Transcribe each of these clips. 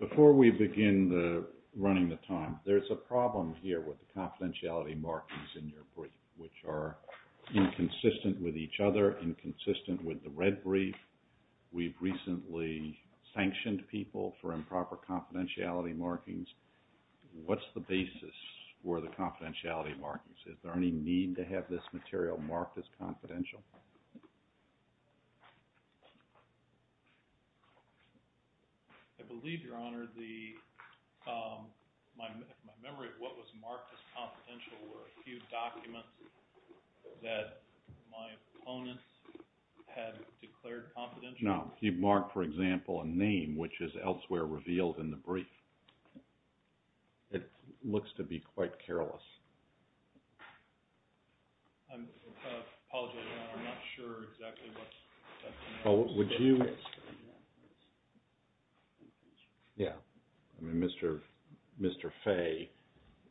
Before we begin running the time, there's a problem here with the confidentiality markings in your brief, which are inconsistent with each other, inconsistent with the red brief. We've recently sanctioned people for improper confidentiality markings. What's the basis for the confidentiality markings? Is there any need to have this material marked as confidential? I believe, Your Honor, my memory of what was marked as confidential were a few documents that my opponents had declared confidential. No. You've marked, for example, a name, which is elsewhere revealed in the brief. It looks to be quite careless. I apologize, Your Honor. I'm not sure exactly what's – Would you – Mr. Fay,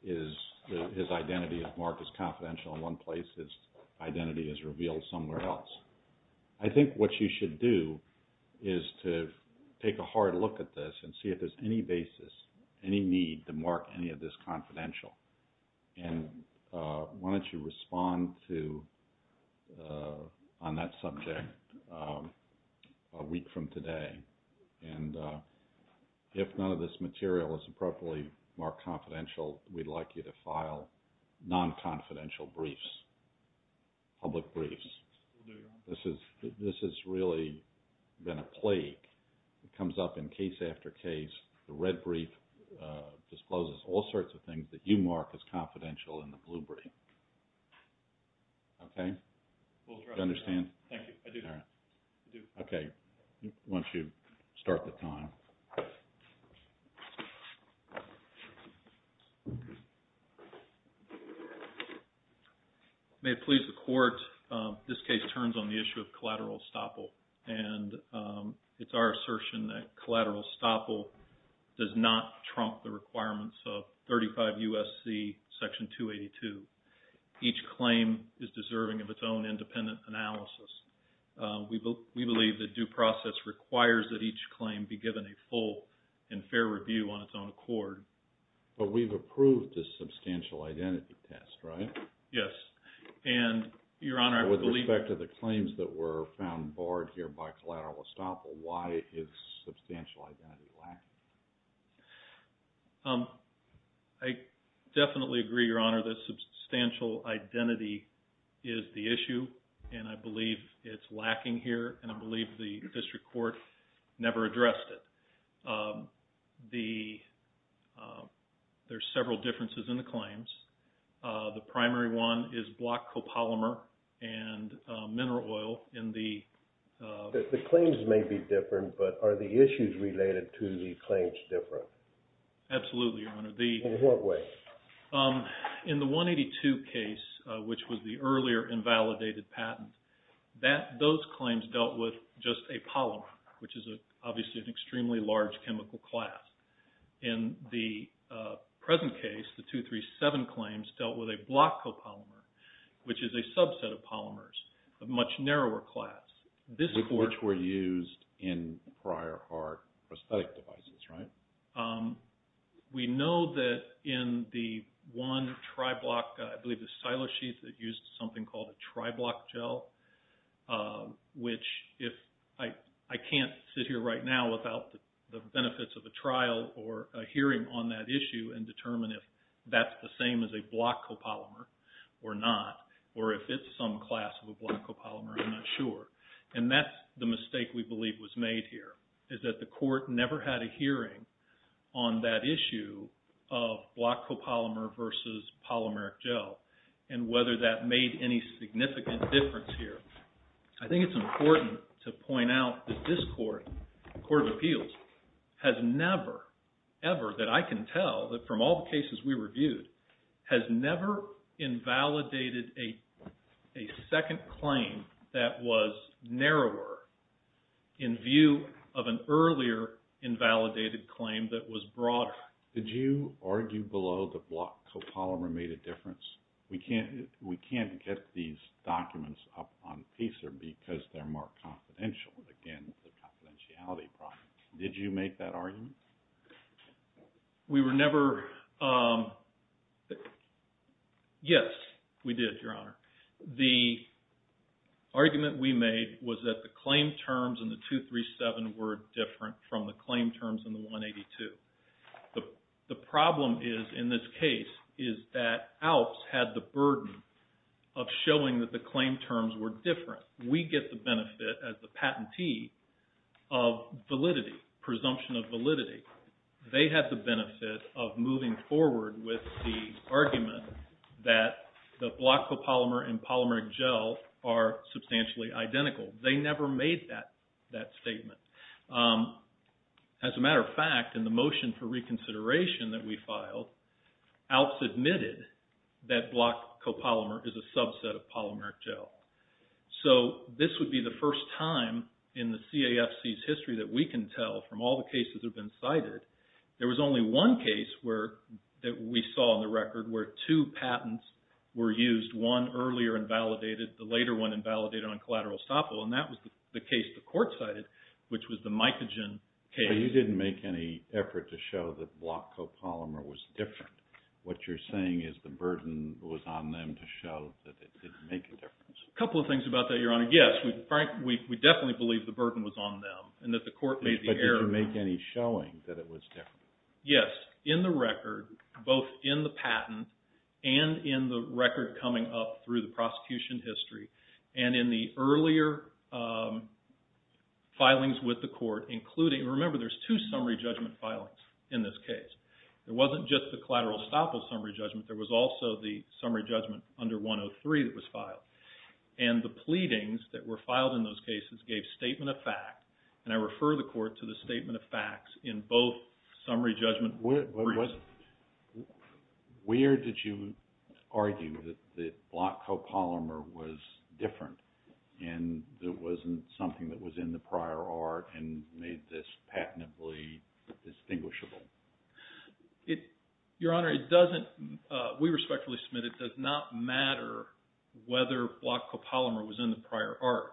his identity is marked as confidential in one place. His identity is revealed somewhere else. I think what you should do is to take a hard look at this and see if there's any basis, any need to mark any of this confidential. And why don't you respond to – on that subject a week from today. And if none of this material is appropriately marked confidential, we'd like you to file non-confidential briefs, public briefs. This has really been a plague. It comes up in case after case. The red brief discloses all sorts of things that you mark as confidential in the blue brief. Okay? Do you understand? Thank you. I do. I do. Okay. Why don't you start the time? May it please the Court, this case turns on the issue of collateral estoppel. And it's our assertion that collateral estoppel does not trump the requirements of 35 U.S.C. Section 282. Each claim is deserving of its own independent analysis. We believe that due process requires that each claim be given a full and fair review on its own accord. But we've approved this substantial identity test, right? Yes. And, Your Honor, I believe – With respect to the claims that were found barred here by collateral estoppel, why is substantial identity lacking? I definitely agree, Your Honor, that substantial identity is the issue, and I believe it's lacking here, and I believe the District Court never addressed it. There's several differences in the claims. The primary one is block copolymer and mineral oil in the – The claims may be different, but are the issues related to the claims different? Absolutely, Your Honor. In what way? In the 182 case, which was the earlier invalidated patent, those claims dealt with just a polymer, which is obviously an extremely large chemical class. In the present case, the 237 claims dealt with a block copolymer, which is a subset of polymers, a much narrower class. Which were used in prior hard prosthetic devices, right? We know that in the one tri-block, I believe the silo sheet that used something called a tri-block gel, which if – I can't sit here right now without the benefits of a trial or a hearing on that issue and determine if that's the same as a block copolymer or not, or if it's some class of a block copolymer, I'm not sure. And that's the mistake we believe was made here, is that the court never had a hearing on that issue of block copolymer versus polymeric gel, and whether that made any significant difference here. I think it's important to point out that this court, the Court of Appeals, has never, ever, that I can tell, that from all the cases we reviewed, has never invalidated a second claim that was narrower in view of an earlier invalidated claim that was broader. Did you argue below the block copolymer made a difference? We can't get these documents up on PACER because they're more confidential. Again, the confidentiality problem. Did you make that argument? We were never – yes, we did, Your Honor. The argument we made was that the claim terms in the 237 were different from the claim terms in the 182. The problem is, in this case, is that ALPS had the burden of showing that the claim terms were different. We get the benefit, as the patentee, of validity, presumption of validity. They had the benefit of moving forward with the argument that the block copolymer and polymeric gel are substantially identical. They never made that statement. As a matter of fact, in the motion for reconsideration that we filed, ALPS admitted that block copolymer is a subset of polymeric gel. So this would be the first time in the CAFC's history that we can tell from all the cases that have been cited, there was only one case that we saw on the record where two patents were used. One earlier invalidated, the later one invalidated on collateral estoppel, and that was the case the court cited, which was the mycogen case. But you didn't make any effort to show that block copolymer was different. What you're saying is the burden was on them to show that it didn't make a difference. A couple of things about that, Your Honor. Yes, we definitely believe the burden was on them and that the court made the error. But you didn't make any showing that it was different. Yes. In the record, both in the patent and in the record coming up through the prosecution history, and in the earlier filings with the court, including, remember there's two summary judgment filings in this case. It wasn't just the collateral estoppel summary judgment, there was also the summary judgment under 103 that was filed. And the pleadings that were filed in those cases gave statement of fact, and I refer the court to the statement of facts in both summary judgment. Where did you argue that block copolymer was different and that it wasn't something that was in the prior art and made this patently distinguishable? Your Honor, it doesn't, we respectfully submit it does not matter whether block copolymer was in the prior art.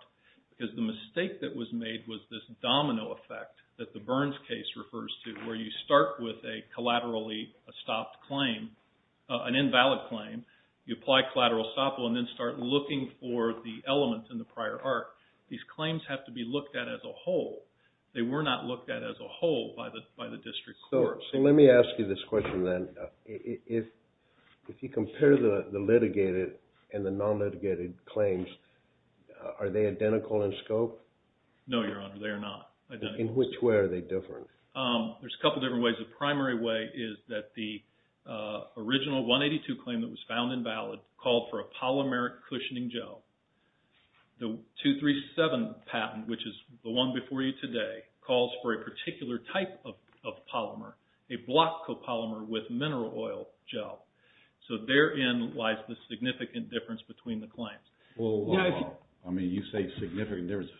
Because the mistake that was made was this domino effect that the Burns case refers to where you start with a collaterally estopped claim, an invalid claim, you apply collateral estoppel and then start looking for the element in the prior art. These claims have to be looked at as a whole. They were not looked at as a whole by the district court. So let me ask you this question then. If you compare the litigated and the non-litigated claims, are they identical in scope? No, Your Honor, they are not. In which way are they different? There's a couple different ways. The primary way is that the original 182 claim that was found invalid called for a polymeric cushioning gel. The 237 patent, which is the one before you today, calls for a particular type of polymer, a block copolymer with mineral oil gel. So therein lies the significant difference between the claims. I mean, you say significant difference.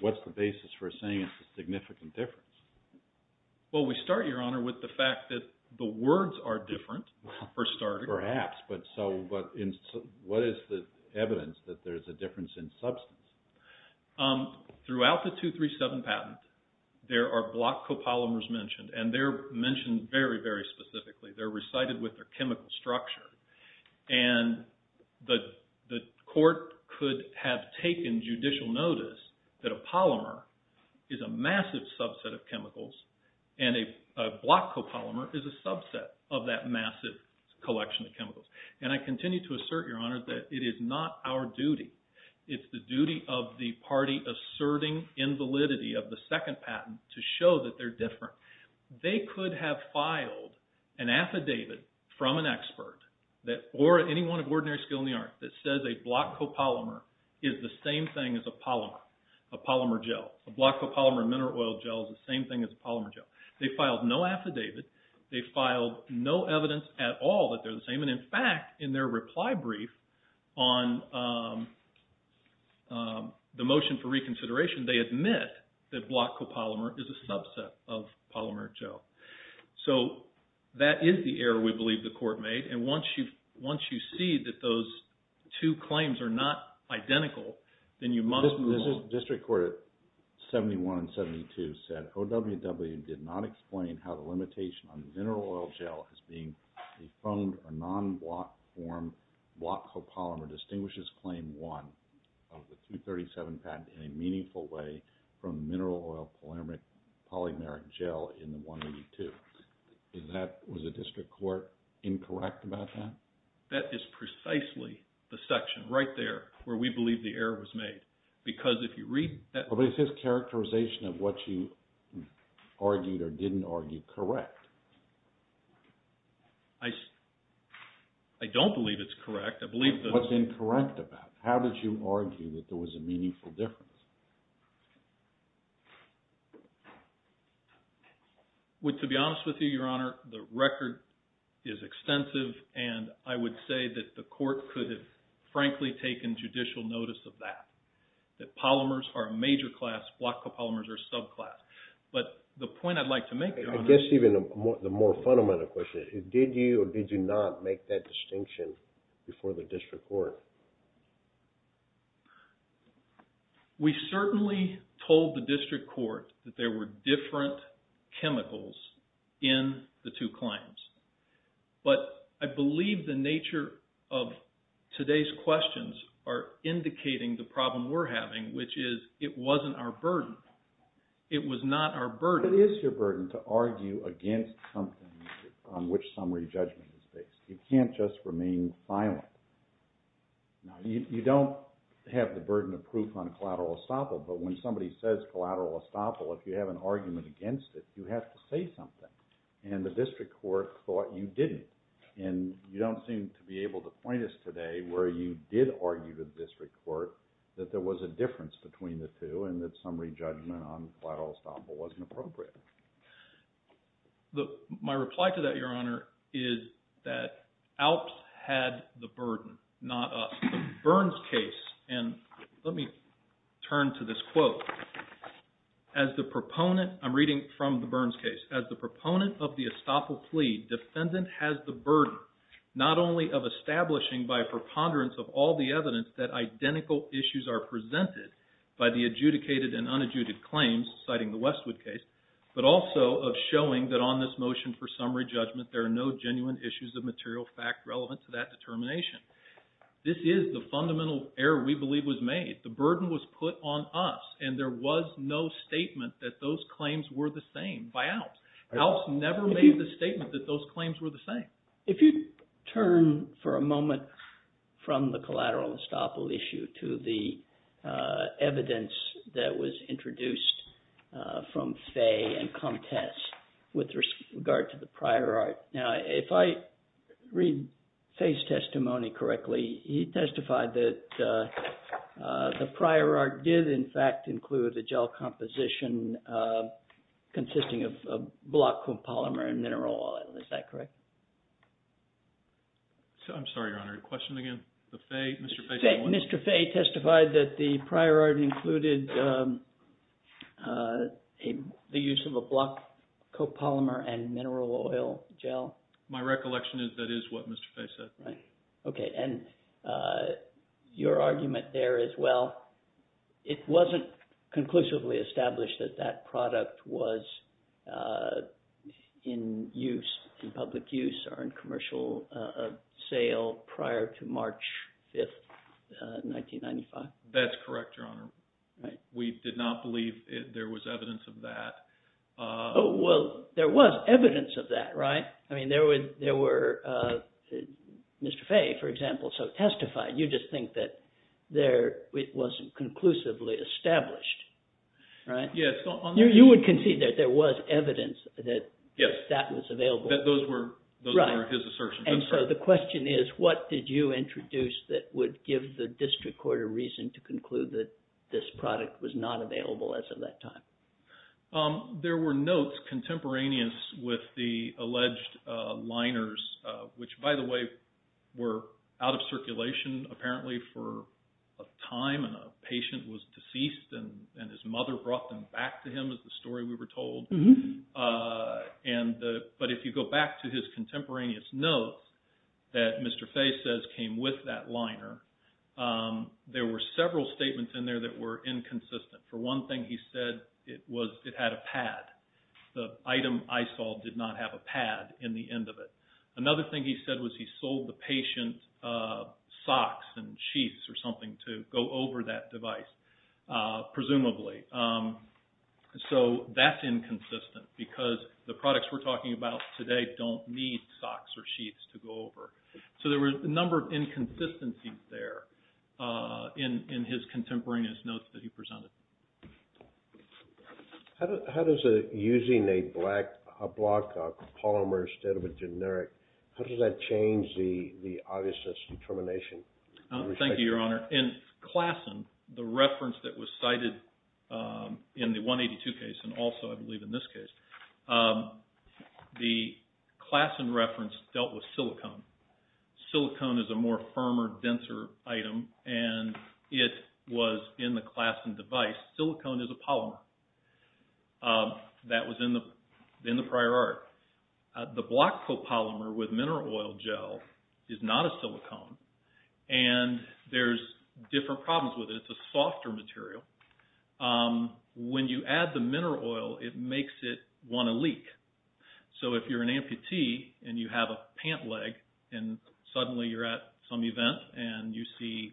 What's the basis for saying it's a significant difference? Well, we start, Your Honor, with the fact that the words are different for starters. Perhaps, but what is the evidence that there's a difference in substance? Throughout the 237 patent, there are block copolymers mentioned, and they're mentioned very, very specifically. They're recited with their chemical structure. And the court could have taken judicial notice that a polymer is a massive subset of chemicals, and a block copolymer is a subset of that massive collection of chemicals. And I continue to assert, Your Honor, that it is not our duty. It's the duty of the party asserting invalidity of the second patent to show that they're different. They could have filed an affidavit from an expert or anyone of ordinary skill in the art that says a block copolymer is the same thing as a polymer, a polymer gel. A block copolymer and mineral oil gel is the same thing as a polymer gel. They filed no affidavit. They filed no evidence at all that they're the same. And in fact, in their reply brief on the motion for reconsideration, they admit that block copolymer is a subset of polymer gel. So that is the error we believe the court made. And once you see that those two claims are not identical, then you must move on. District Court 71 and 72 said, OWW did not explain how the limitation on mineral oil gel as being a foamed or non-block form block copolymer distinguishes Claim 1 of the 237 patent in a meaningful way from mineral oil polymeric gel in the 182. Was the district court incorrect about that? That is precisely the section right there where we believe the error was made. Because if you read that… But it's his characterization of what you argued or didn't argue correct. I don't believe it's correct. I believe that… What's incorrect about it? How did you argue that there was a meaningful difference? To be honest with you, Your Honor, the record is extensive, and I would say that the court could have frankly taken judicial notice of that. That polymers are a major class, block copolymers are subclass. But the point I'd like to make, Your Honor… I guess even the more fundamental question is, did you or did you not make that distinction before the district court? We certainly told the district court that there were different chemicals in the two claims. But I believe the nature of today's questions are indicating the problem we're having, which is it wasn't our burden. It was not our burden. It is your burden to argue against something on which summary judgment is based. You can't just remain silent. Now, you don't have the burden of proof on collateral estoppel, but when somebody says collateral estoppel, if you have an argument against it, you have to say something. And the district court thought you didn't. And you don't seem to be able to point us today where you did argue to the district court that there was a difference between the two and that summary judgment on collateral estoppel wasn't appropriate. My reply to that, Your Honor, is that Alps had the burden, not us. And let me turn to this quote. I'm reading from the Burns case. As the proponent of the estoppel plea, defendant has the burden not only of establishing by preponderance of all the evidence that identical issues are presented by the adjudicated and unadjudicated claims, citing the Westwood case, but also of showing that on this motion for summary judgment there are no genuine issues of material fact relevant to that determination. This is the fundamental error we believe was made. The burden was put on us, and there was no statement that those claims were the same by Alps. Alps never made the statement that those claims were the same. If you turn for a moment from the collateral estoppel issue to the evidence that was introduced from Fay and Comtesse with regard to the prior art. Now, if I read Fay's testimony correctly, he testified that the prior art did, in fact, include the gel composition consisting of block copolymer and mineral oil. Is that correct? I'm sorry, Your Honor. Question again? Mr. Fay testified that the prior art included the use of a block copolymer and mineral oil gel. My recollection is that is what Mr. Fay said. Okay, and your argument there is, well, it wasn't conclusively established that that product was in use, in public use or in commercial sale prior to March 5th, 1995. That's correct, Your Honor. We did not believe there was evidence of that. Well, there was evidence of that, right? I mean, there were – Mr. Fay, for example, testified. You just think that it wasn't conclusively established, right? Yes. You would concede that there was evidence that that was available? Yes, that those were his assertions. And so the question is, what did you introduce that would give the district court a reason to conclude that this product was not available as of that time? There were notes contemporaneous with the alleged liners, which, by the way, were out of circulation, apparently, for a time. And a patient was deceased, and his mother brought them back to him is the story we were told. But if you go back to his contemporaneous notes that Mr. Fay says came with that liner, there were several statements in there that were inconsistent. For one thing, he said it had a pad. The item I saw did not have a pad in the end of it. Another thing he said was he sold the patient socks and sheets or something to go over that device, presumably. So that's inconsistent because the products we're talking about today don't need socks or sheets to go over. So there were a number of inconsistencies there in his contemporaneous notes that he presented. How does using a black block of polymer instead of a generic, how does that change the obviousness determination? In Klassen, the reference that was cited in the 182 case, and also, I believe, in this case, the Klassen reference dealt with silicone. Silicone is a more firmer, denser item, and it was in the Klassen device. Silicone is a polymer. That was in the prior art. The block copolymer with mineral oil gel is not a silicone, and there's different problems with it. It's a softer material. When you add the mineral oil, it makes it want to leak. So if you're an amputee and you have a pant leg and suddenly you're at some event and you see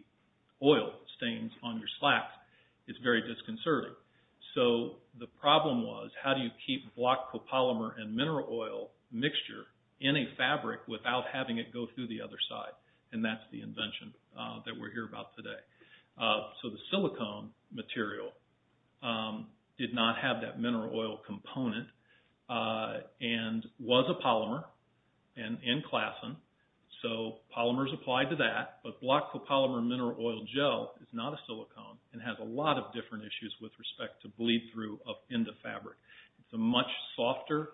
oil stains on your slacks, it's very disconcerting. So the problem was, how do you keep block copolymer and mineral oil mixture in a fabric without having it go through the other side? And that's the invention that we're here about today. So the silicone material did not have that mineral oil component and was a polymer in Klassen. So polymers apply to that, but block copolymer and mineral oil gel is not a silicone and has a lot of different issues with respect to bleed through in the fabric. It's a much softer,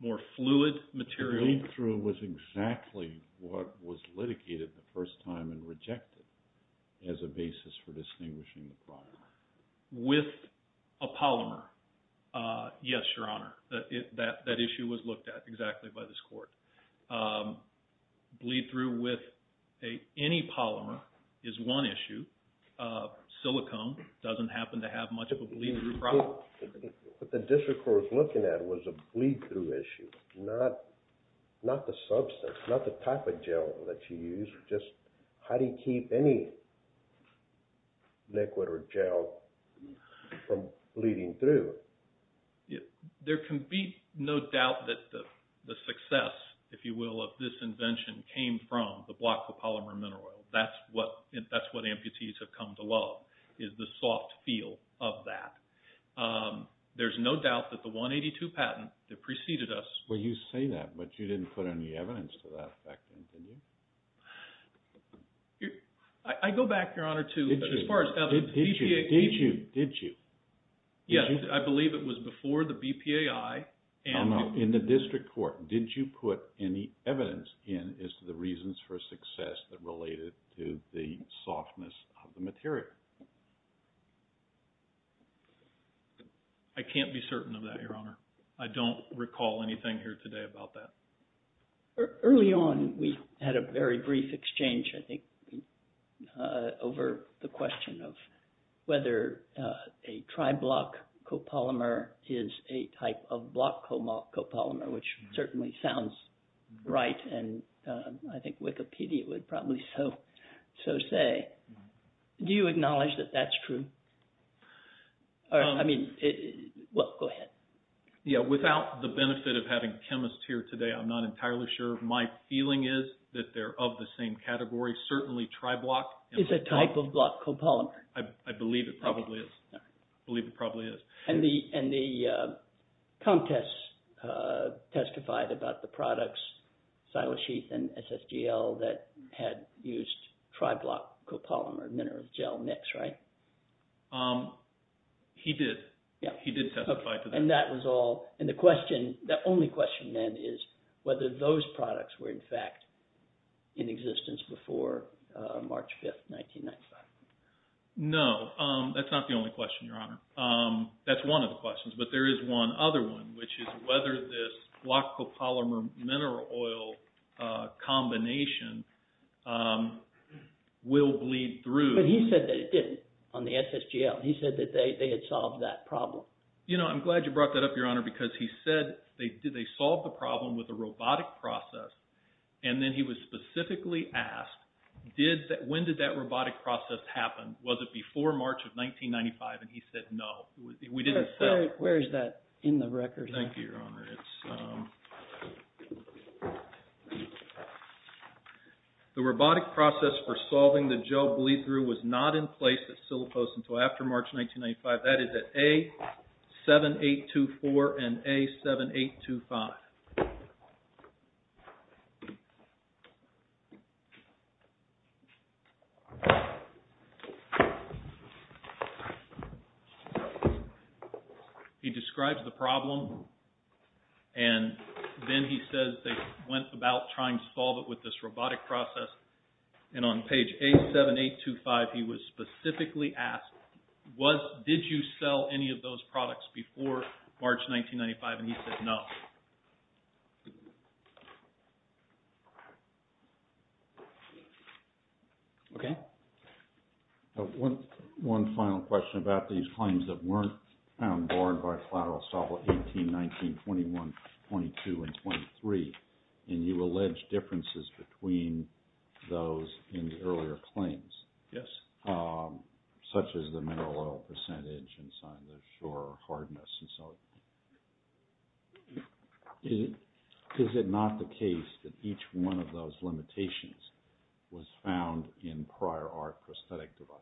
more fluid material. The bleed through was exactly what was litigated the first time and rejected as a basis for distinguishing the polymer. With a polymer, yes, Your Honor. That issue was looked at exactly by this court. Bleed through with any polymer is one issue. Silicone doesn't happen to have much of a bleed through problem. What the district court was looking at was a bleed through issue, not the substance, not the type of gel that you use. Just how do you keep any liquid or gel from bleeding through? There can be no doubt that the success, if you will, of this invention came from the block copolymer and mineral oil. That's what amputees have come to love is the soft feel of that. There's no doubt that the 182 patent that preceded us... Well, you say that, but you didn't put any evidence to that back then, did you? I go back, Your Honor, to as far as... Did you? Did you? Yes. I believe it was before the BPAI and... No, no. In the district court, didn't you put any evidence in as to the reasons for success that related to the softness of the material? I can't be certain of that, Your Honor. I don't recall anything here today about that. Early on, we had a very brief exchange, I think, over the question of whether a tri-block copolymer is a type of block copolymer, which certainly sounds right, and I think Wikipedia would probably so say. Do you acknowledge that that's true? I mean... Well, go ahead. Yeah, without the benefit of having chemists here today, I'm not entirely sure. My feeling is that they're of the same category. Certainly, tri-block... Is a type of block copolymer. I believe it probably is. I believe it probably is. And the contest testified about the products, Silasheath and SSGL, that had used tri-block copolymer, mineral gel mix, right? He did. Yeah. He did testify to that. And that was all... And the question... The only question then is whether those products were, in fact, in existence before March 5th, 1995. No, that's not the only question, Your Honor. That's one of the questions, but there is one other one, which is whether this block copolymer-mineral oil combination will bleed through... But he said that it didn't on the SSGL. He said that they had solved that problem. You know, I'm glad you brought that up, Your Honor, because he said they solved the problem with a robotic process. And then he was specifically asked, when did that robotic process happen? Was it before March of 1995? And he said, no, we didn't sell it. Where is that in the record? Thank you, Your Honor. The robotic process for solving the gel bleed through was not in place at Sillipost until after March 1995. That is at A7824 and A7825. He describes the problem, and then he says they went about trying to solve it with this robotic process. And on page A7825, he was specifically asked, did you sell any of those products before March 1995? And he said, no. Okay. One final question about these claims that weren't found borne by collateral estoppel 18, 19, 21, 22, and 23. And you allege differences between those in the earlier claims. Yes. Such as the mineral oil percentage and signage or hardness and so on. Is it not the case that each one of those limitations was found in prior art prosthetic devices?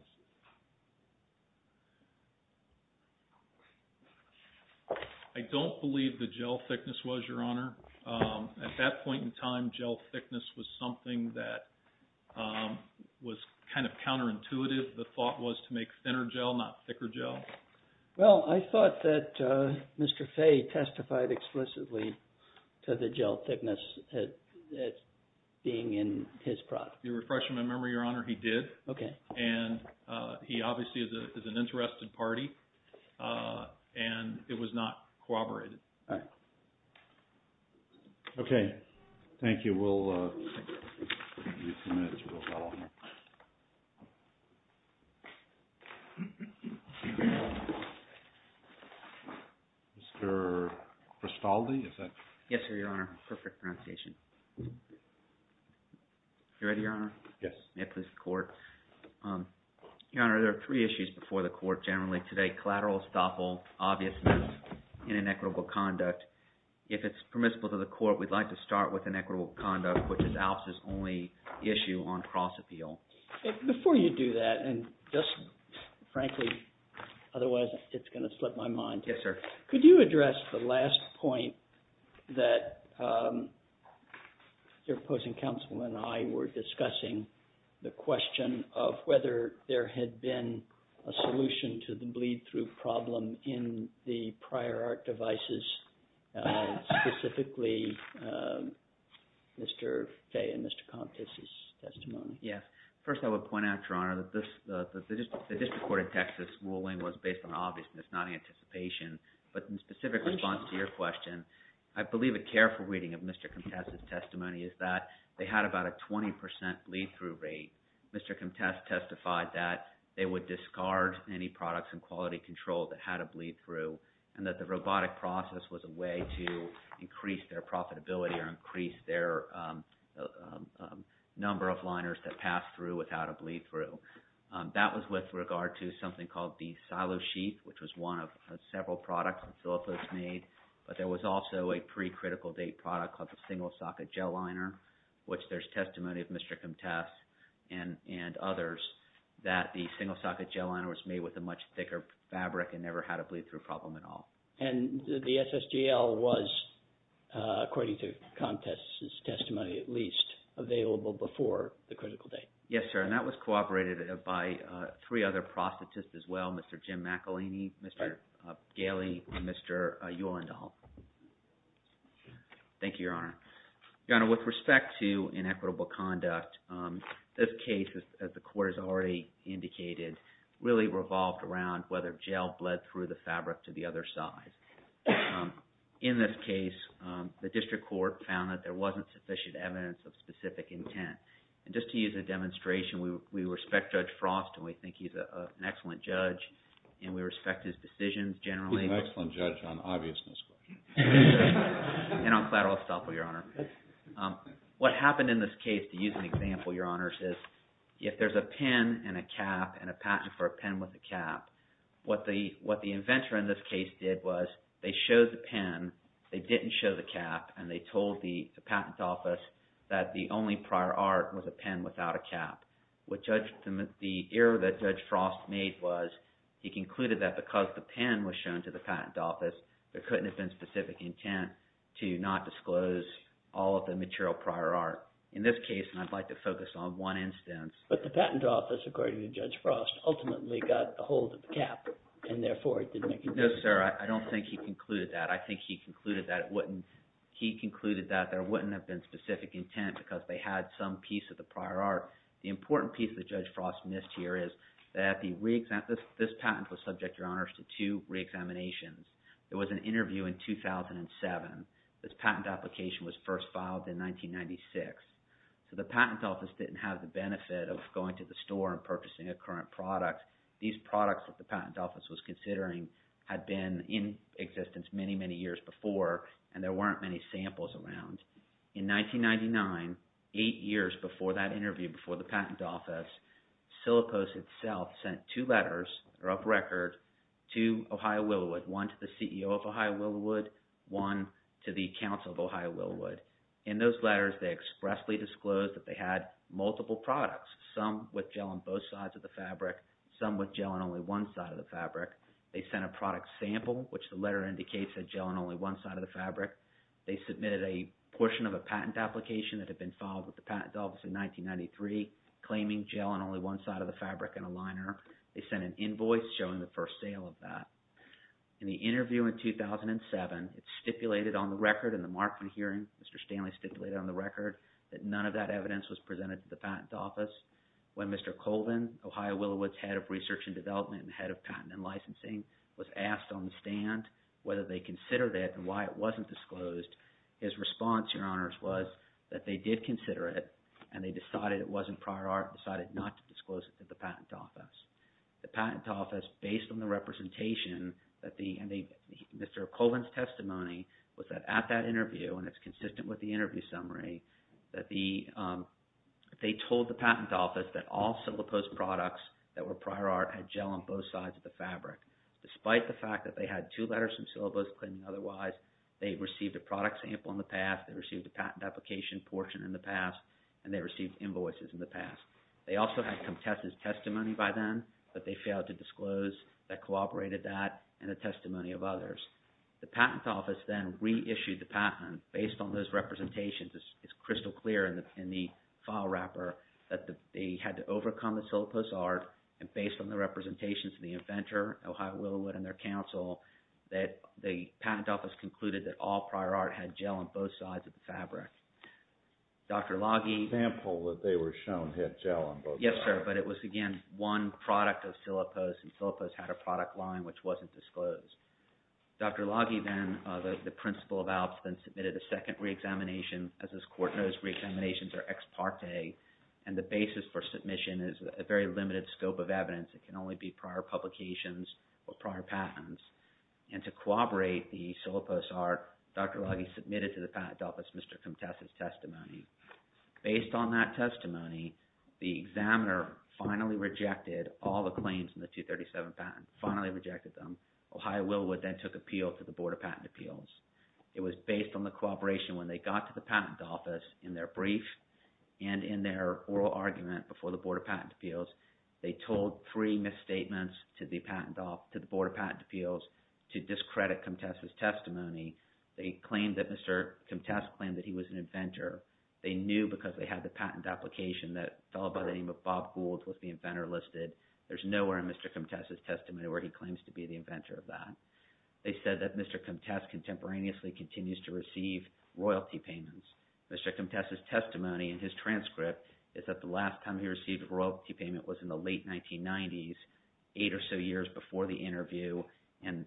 I don't believe the gel thickness was, Your Honor. At that point in time, gel thickness was something that was kind of counterintuitive. The thought was to make thinner gel, not thicker gel. Well, I thought that Mr. Fay testified explicitly to the gel thickness being in his product. You're refreshing my memory, Your Honor. He did. Okay. And he obviously is an interested party, and it was not corroborated. Okay. Thank you. We'll give you a few minutes. We'll follow up. Mr. Christaldi, is that? Yes, sir, Your Honor. Perfect pronunciation. You ready, Your Honor? Yes. May I please have the court? Your Honor, there are three issues before the court generally today. One is the collateral estoppel obviousness in inequitable conduct. If it's permissible to the court, we'd like to start with inequitable conduct, which is Alps' only issue on cross-appeal. Before you do that, and just frankly, otherwise it's going to split my mind. Yes, sir. Could you address the last point that your opposing counsel and I were discussing, the lead-through problem in the prior art devices, specifically Mr. Fay and Mr. Comtesse's testimony? Yes. First, I would point out, Your Honor, that the District Court of Texas ruling was based on obviousness, not anticipation. But in specific response to your question, I believe a careful reading of Mr. Comtesse's testimony is that they had about a 20% lead-through rate. Mr. Comtesse testified that they would discard any products in quality control that had a lead-through, and that the robotic process was a way to increase their profitability or increase their number of liners that pass through without a lead-through. That was with regard to something called the silo sheet, which was one of several products that Philips has made. But there was also a pre-critical date product called the single-socket gel liner, which there's testimony of Mr. Comtesse and others that the single-socket gel liner was made with a much thicker fabric and never had a lead-through problem at all. And the SSGL was, according to Comtesse's testimony at least, available before the critical date? Yes, sir. And that was cooperated by three other prosthetists as well, Mr. Jim McElhaney, Mr. Galey, and Mr. Uhlendahl. Thank you, Your Honor. Your Honor, with respect to inequitable conduct, this case, as the court has already indicated, really revolved around whether gel bled through the fabric to the other side. In this case, the district court found that there wasn't sufficient evidence of specific intent. And just to use a demonstration, we respect Judge Frost, and we think he's an excellent judge, and we respect his decisions generally. He's an excellent judge on obviousness questions. And I'm glad I was thoughtful, Your Honor. What happened in this case, to use an example, Your Honors, is if there's a pen and a cap and a patent for a pen with a cap, what the inventor in this case did was they showed the pen, they didn't show the cap, and they told the patent office that the only prior art was a pen without a cap. The error that Judge Frost made was he concluded that because the pen was shown to the patent office, there couldn't have been specific intent to not disclose all of the material prior art. In this case, and I'd like to focus on one instance. But the patent office, according to Judge Frost, ultimately got a hold of the cap, and therefore, it didn't make a difference. No, sir. I don't think he concluded that. I think he concluded that it wouldn't. He concluded that there wouldn't have been specific intent because they had some piece of the prior art. The important piece that Judge Frost missed here is that this patent was subject, Your There was an interview in 2007. This patent application was first filed in 1996. So the patent office didn't have the benefit of going to the store and purchasing a current product. These products that the patent office was considering had been in existence many, many years before, and there weren't many samples around. In 1999, eight years before that interview, before the patent office, Silipos itself sent two letters that are up record to Ohio Willowood, one to the CEO of Ohio Willowood, one to the Council of Ohio Willowood. In those letters, they expressly disclosed that they had multiple products, some with gel on both sides of the fabric, some with gel on only one side of the fabric. They sent a product sample, which the letter indicates had gel on only one side of the fabric. They submitted a portion of a patent application that had been filed with the patent office in 1993 claiming gel on only one side of the fabric and a liner. They sent an invoice showing the first sale of that. In the interview in 2007, it's stipulated on the record in the Markman hearing, Mr. Stanley stipulated on the record that none of that evidence was presented to the patent office. When Mr. Colvin, Ohio Willowood's head of research and development and head of patent and licensing, was asked on the stand whether they considered it and why it wasn't disclosed, his response, Your Honors, was that they did consider it and they decided it wasn't prior art and decided not to disclose it to the patent office. The patent office, based on the representation, Mr. Colvin's testimony was that at that interview, and it's consistent with the interview summary, that they told the patent office that all syllabus products that were prior art had gel on both sides of the fabric. Despite the fact that they had two letters from syllabus claiming otherwise, they received a product sample in the past, they received a patent application portion in the past, and they received invoices in the past. They also had contested testimony by them, but they failed to disclose that collaborated that and the testimony of others. The patent office then reissued the patent based on those representations. It's crystal clear in the file wrapper that they had to overcome the syllabus art and based on the representations of the inventor, Ohio Willowood and their counsel, that the prior art had gel on both sides of the fabric. Example that they were shown had gel on both sides. Yes, sir, but it was again one product of syllabus and syllabus had a product line which wasn't disclosed. Dr. Laghi then, the principal of ALPS, then submitted a second reexamination. As this Court knows, reexaminations are ex parte and the basis for submission is a very limited scope of evidence. It can only be prior publications or prior patents. And to corroborate the syllabus art, Dr. Laghi submitted to the patent office Mr. Contessa's testimony. Based on that testimony, the examiner finally rejected all the claims in the 237 patent, finally rejected them. Ohio Willowood then took appeal to the Board of Patent Appeals. It was based on the cooperation when they got to the patent office in their brief and in their oral argument before the Board of Patent Appeals. They told three misstatements to the Board of Patent Appeals to discredit Contessa's testimony. They claimed that Mr. Contessa claimed that he was an inventor. They knew because they had the patent application that fell by the name of Bob Gould was the inventor listed. There's nowhere in Mr. Contessa's testimony where he claims to be the inventor of that. They said that Mr. Contessa contemporaneously continues to receive royalty payments. Mr. Contessa's testimony in his transcript is that the last time he received a royalty payment was in the late 1990s, eight or so years before the interview and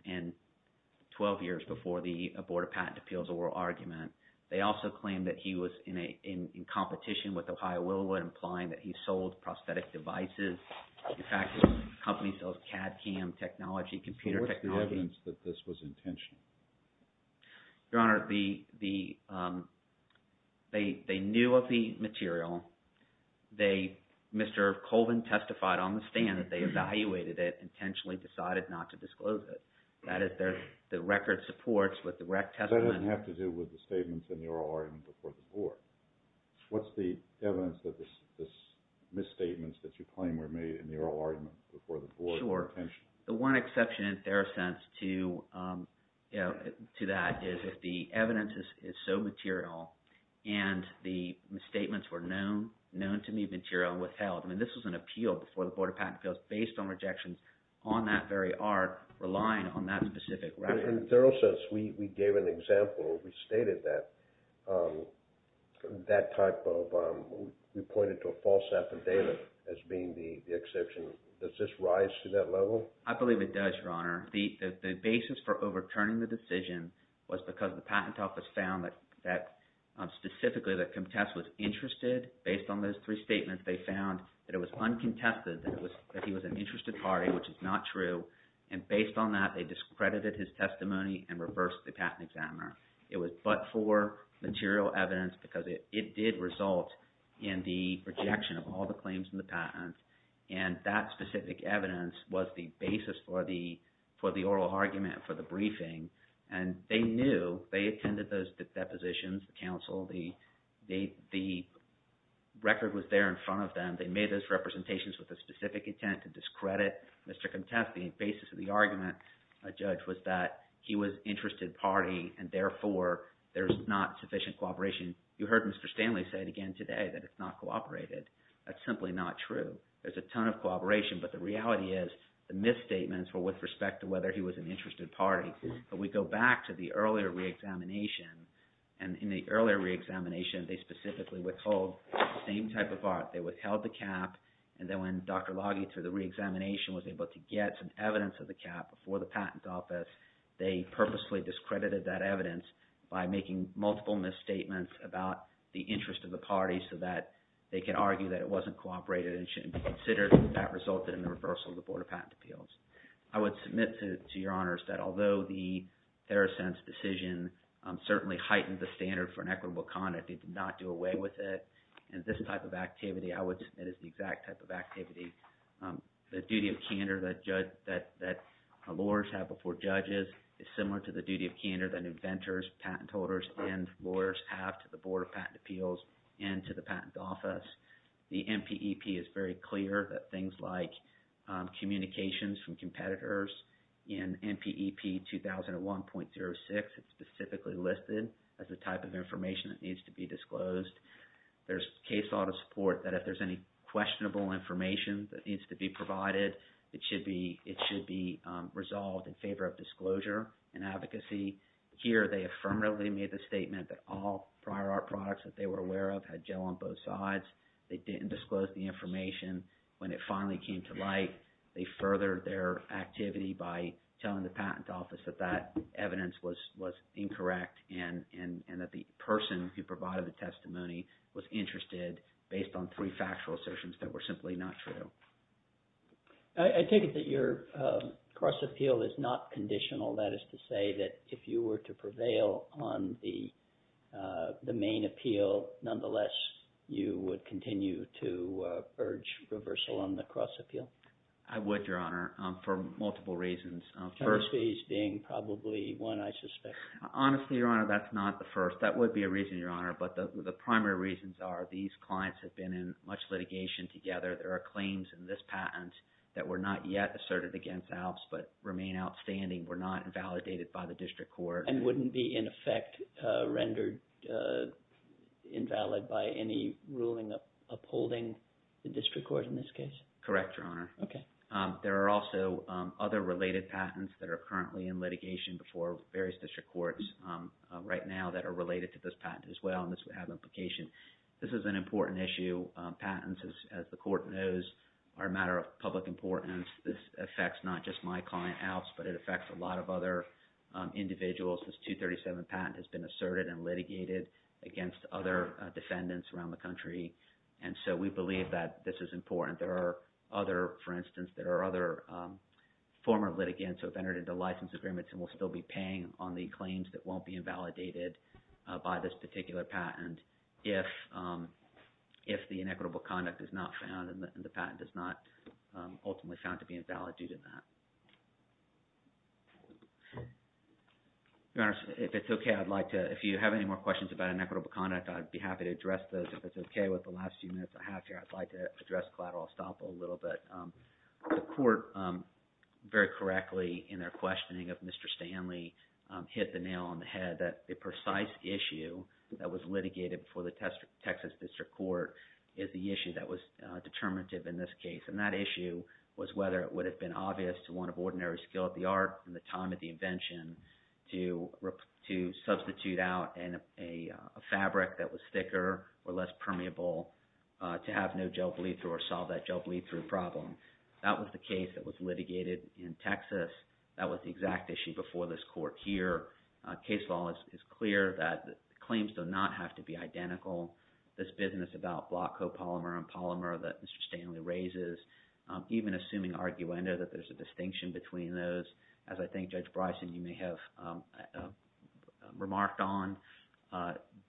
12 years before the Board of Patent Appeals oral argument. They also claimed that he was in competition with Ohio Willowood, implying that he sold prosthetic devices. In fact, the company sells CAD cam technology, computer technology. So what's the evidence that this was intentional? Your Honor, the – they knew of the material. They – Mr. Colvin testified on the stand that they evaluated it, intentionally decided not to disclose it. That is, the record supports what the rec testimony – But that doesn't have to do with the statements in the oral argument before the Board. What's the evidence that the misstatements that you claim were made in the oral argument before the Board of Attention? Sure. The one exception in fair sense to that is if the evidence is so material and the misstatements were known to be material and withheld. I mean this was an appeal before the Board of Patent Appeals based on rejections on that very art, relying on that specific record. In a thorough sense, we gave an example. We stated that type of – we pointed to a false affidavit as being the exception. Does this rise to that level? I believe it does, Your Honor. The basis for overturning the decision was because the patent office found that specifically the contest was interested. Based on those three statements, they found that it was uncontested that he was an interested party, which is not true. And based on that, they discredited his testimony and reversed the patent examiner. It was but for material evidence because it did result in the rejection of all the claims in the patent. And that specific evidence was the basis for the oral argument for the briefing. And they knew. They attended those depositions, the counsel. The record was there in front of them. They made those representations with a specific intent to discredit Mr. Contest. The basis of the argument, Judge, was that he was interested party, and therefore, there's not sufficient cooperation. You heard Mr. Stanley say it again today that it's not cooperated. That's simply not true. There's a ton of cooperation, but the reality is the misstatements were with respect to whether he was an interested party. But we go back to the earlier re-examination. And in the earlier re-examination, they specifically withhold the same type of part. They withheld the cap. And then when Dr. Laghi, through the re-examination, was able to get some evidence of the cap before the patent office, they purposely discredited that evidence by making multiple misstatements about the interest of the party so that they could argue that it wasn't cooperated and shouldn't be considered. And that resulted in the reversal of the Board of Patent Appeals. I would submit to your honors that although the Therosense decision certainly heightened the standard for inequitable conduct, they did not do away with it. And this type of activity, I would submit, is the exact type of activity. The duty of candor that lawyers have before judges is similar to the duty of candor that inventors, patent holders, and lawyers have to the Board of Patent Appeals and to the patent office. The NPEP is very clear that things like communications from competitors in NPEP 2001.06 is specifically listed as the type of information that needs to be disclosed. There's case law to support that if there's any questionable information that needs to be provided, it should be resolved in favor of disclosure and advocacy. Here, they affirmatively made the statement that all prior art products that they were They didn't disclose the information. When it finally came to light, they furthered their activity by telling the patent office that that evidence was incorrect and that the person who provided the testimony was interested based on three factual assertions that were simply not true. I take it that your cross-appeal is not conditional. That is to say that if you were to prevail on the main appeal, nonetheless, you would continue to urge reversal on the cross-appeal? I would, Your Honor, for multiple reasons. The first being probably one I suspect. Honestly, Your Honor, that's not the first. That would be a reason, Your Honor, but the primary reasons are these clients have been in much litigation together. There are claims in this patent that were not yet asserted against Alps but remain outstanding. They were not invalidated by the district court. And wouldn't be, in effect, rendered invalid by any ruling upholding the district court in this case? Correct, Your Honor. Okay. There are also other related patents that are currently in litigation before various district courts right now that are related to this patent as well, and this would have implication. This is an important issue. Patents, as the court knows, are a matter of public importance. This affects not just my client, Alps, but it affects a lot of other individuals. This 237 patent has been asserted and litigated against other defendants around the country, and so we believe that this is important. There are other, for instance, there are other former litigants who have entered into license agreements and will still be paying on the claims that won't be invalidated by this particular patent if the inequitable conduct is not found and the patent is not ultimately found to be invalid due to that. Your Honor, if it's okay, I'd like to – if you have any more questions about inequitable conduct, I'd be happy to address those. If it's okay with the last few minutes I have here, I'd like to address collateral estoppel a little bit. The court, very correctly in their questioning of Mr. Stanley, hit the nail on the head that the precise issue that was litigated before the Texas District Court is the issue that was determinative in this case, and that issue was whether it would have been obvious to one of ordinary skill at the art in the time of the invention to substitute out a fabric that was thicker or less permeable to have no gel bleed through or solve that gel bleed through problem. That was the case that was litigated in Texas. That was the exact issue before this court. Here, case law is clear that claims do not have to be identical. This business about block copolymer and polymer that Mr. Stanley raises, even assuming arguendo that there's a distinction between those, as I think Judge Bryson, you may have remarked on,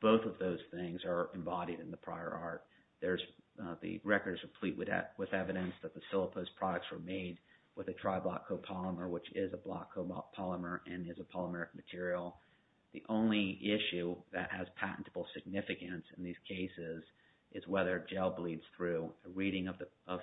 both of those things are embodied in the prior art. There's – the record is complete with evidence that the Silopos products were made with a tri-block copolymer, which is a block copolymer and is a polymeric material. The only issue that has patentable significance in these cases is whether gel bleeds through. A reading of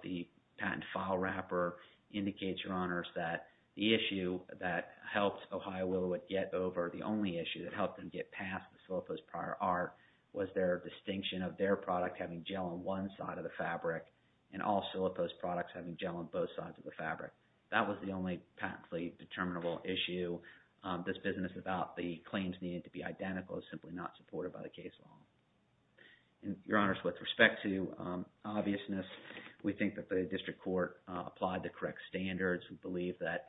the patent file wrapper indicates, Your Honors, that the issue that helped Ohio Willowit get over, the only issue that helped them get past the Silopos prior art, was their distinction of their product having gel on one side of the fabric and all Silopos products having gel on both sides of the fabric. That was the only patently determinable issue. This business about the claims needed to be identical is simply not supported by the case law. Your Honors, with respect to obviousness, we think that the district court applied the correct standards. We believe that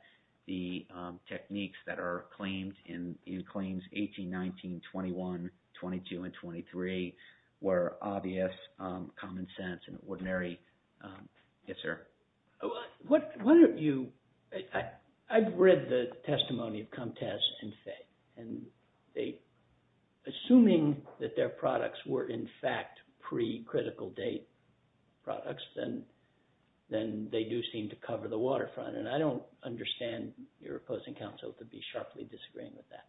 the techniques that are claimed in claims 18, 19, 21, 22, and 23 were obvious, common sense, and ordinary. Yes, sir. Why don't you – I've read the testimony of Comtesse and Fay. Assuming that their products were in fact pre-critical date products, then they do seem to cover the waterfront. And I don't understand your opposing counsel to be sharply disagreeing with that.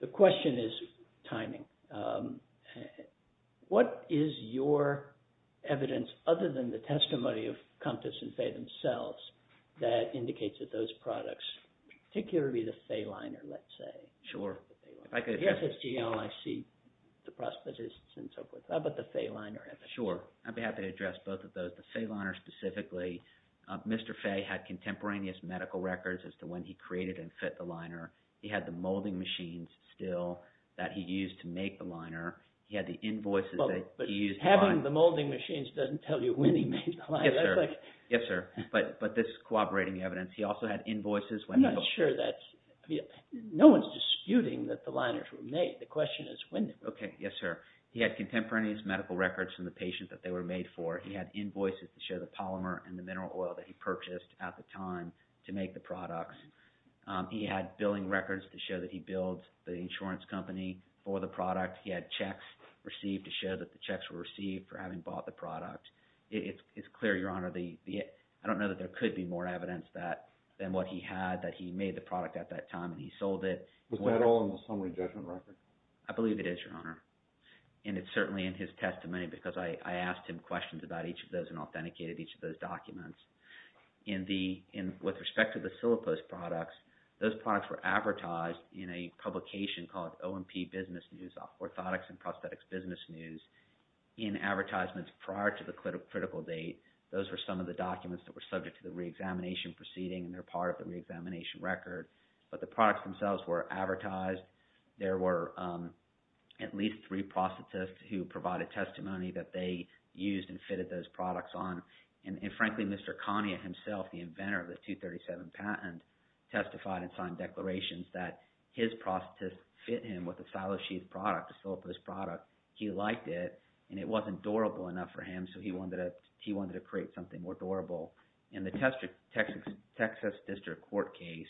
The question is timing. What is your evidence, other than the testimony of Comtesse and Fay themselves, that indicates that those products, particularly the Fay liner, let's say. Sure. The FSGL, I see the Prosthetists and so forth. How about the Fay liner? Sure. I'd be happy to address both of those. The Fay liner specifically, Mr. Fay had contemporaneous medical records as to when he created and fit the liner. He had the molding machines still that he used to make the liner. He had the invoices that he used – Having the molding machines doesn't tell you when he made the liner. Yes, sir. Yes, sir. But this is cooperating evidence. He also had invoices when – I'm not sure that – no one's disputing that the liners were made. The question is when they were made. Okay. Yes, sir. He had contemporaneous medical records from the patients that they were made for. He had invoices to show the polymer and the mineral oil that he purchased at the time to make the products. He had billing records to show that he billed the insurance company for the product. He had checks received to show that the checks were received for having bought the product. It's clear, Your Honor. I don't know that there could be more evidence than what he had that he made the product at that time, and he sold it. Was that all in the summary judgment record? I believe it is, Your Honor. And it's certainly in his testimony because I asked him questions about each of those and authenticated each of those documents. With respect to the Silopost products, those products were advertised in a publication called O&P Business News, Orthotics and Prosthetics Business News, in advertisements prior to the critical date. Those were some of the documents that were subject to the reexamination proceeding, and they're part of the reexamination record. But the products themselves were advertised. There were at least three prosthetists who provided testimony that they used and fitted those products on. And frankly, Mr. Kanye himself, the inventor of the 237 patent, testified and signed declarations that his prosthetists fit him with a silo sheath product, a Silopost product. He liked it, and it wasn't durable enough for him, so he wanted to create something more durable. In the Texas District Court case,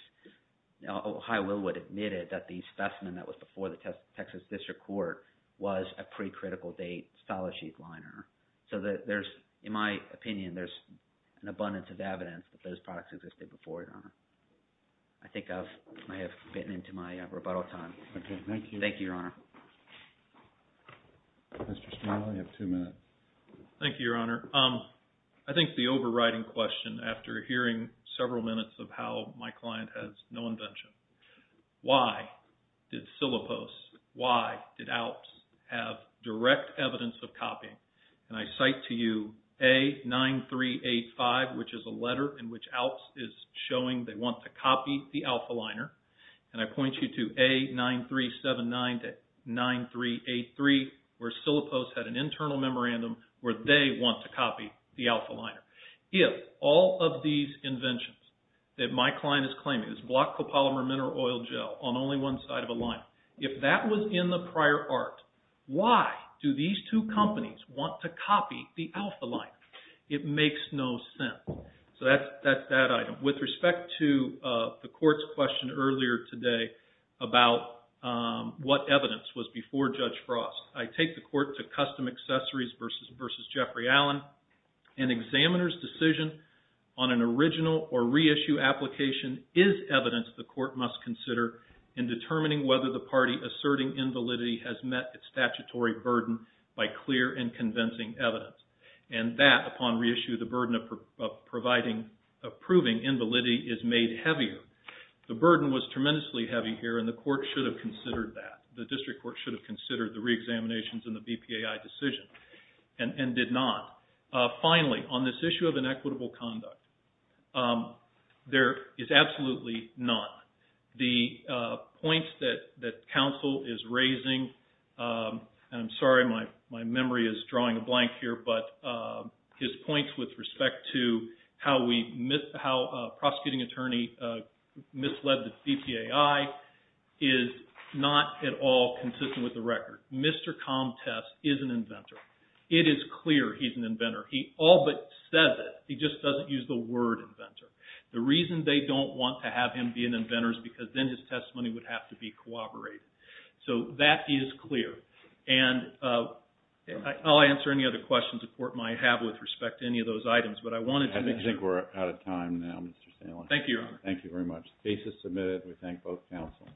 Ohio Willwood admitted that the specimen that was before the Texas District Court was a pre-critical date silo sheath liner. So there's – in my opinion, there's an abundance of evidence that those products existed before, Your Honor. I think I have bitten into my rebuttal time. Okay, thank you. Thank you, Your Honor. Mr. Stahl, you have two minutes. Thank you, Your Honor. I think the overriding question after hearing several minutes of how my client has no invention, why did Siloposts, why did Alps have direct evidence of copying? And I cite to you A9385, which is a letter in which Alps is showing they want to copy the Alpha Liner. And I point you to A9379 to 9383, where Siloposts had an internal memorandum where they want to copy the Alpha Liner. If all of these inventions that my client is claiming is block copolymer mineral oil gel on only one side of a liner, if that was in the prior art, why do these two companies want to copy the Alpha Liner? It makes no sense. So that's that item. With respect to the Court's question earlier today about what evidence was before Judge Frost, I take the Court to Custom Accessories v. Jeffrey Allen. An examiner's decision on an original or reissue application is evidence the Court must consider in determining whether the party asserting invalidity has met its statutory burden by clear and convincing evidence. And that, upon reissue, the burden of proving invalidity is made heavier. The burden was tremendously heavy here and the Court should have considered that. The District Court should have considered the reexaminations and the BPAI decision and did not. Finally, on this issue of inequitable conduct, there is absolutely none. The points that counsel is raising, and I'm sorry my memory is drawing a blank here, but his points with respect to how a prosecuting attorney misled the BPAI is not at all consistent with the record. Mr. Comtesse is an inventor. It is clear he's an inventor. He all but says it. He just doesn't use the word inventor. The reason they don't want to have him be an inventor is because then his testimony would have to be corroborated. So that is clear. And I'll answer any other questions the Court might have with respect to any of those items, but I wanted to make sure. I think we're out of time now, Mr. Stanley. Thank you, Your Honor. Thank you very much. The case is submitted. We thank both counsel.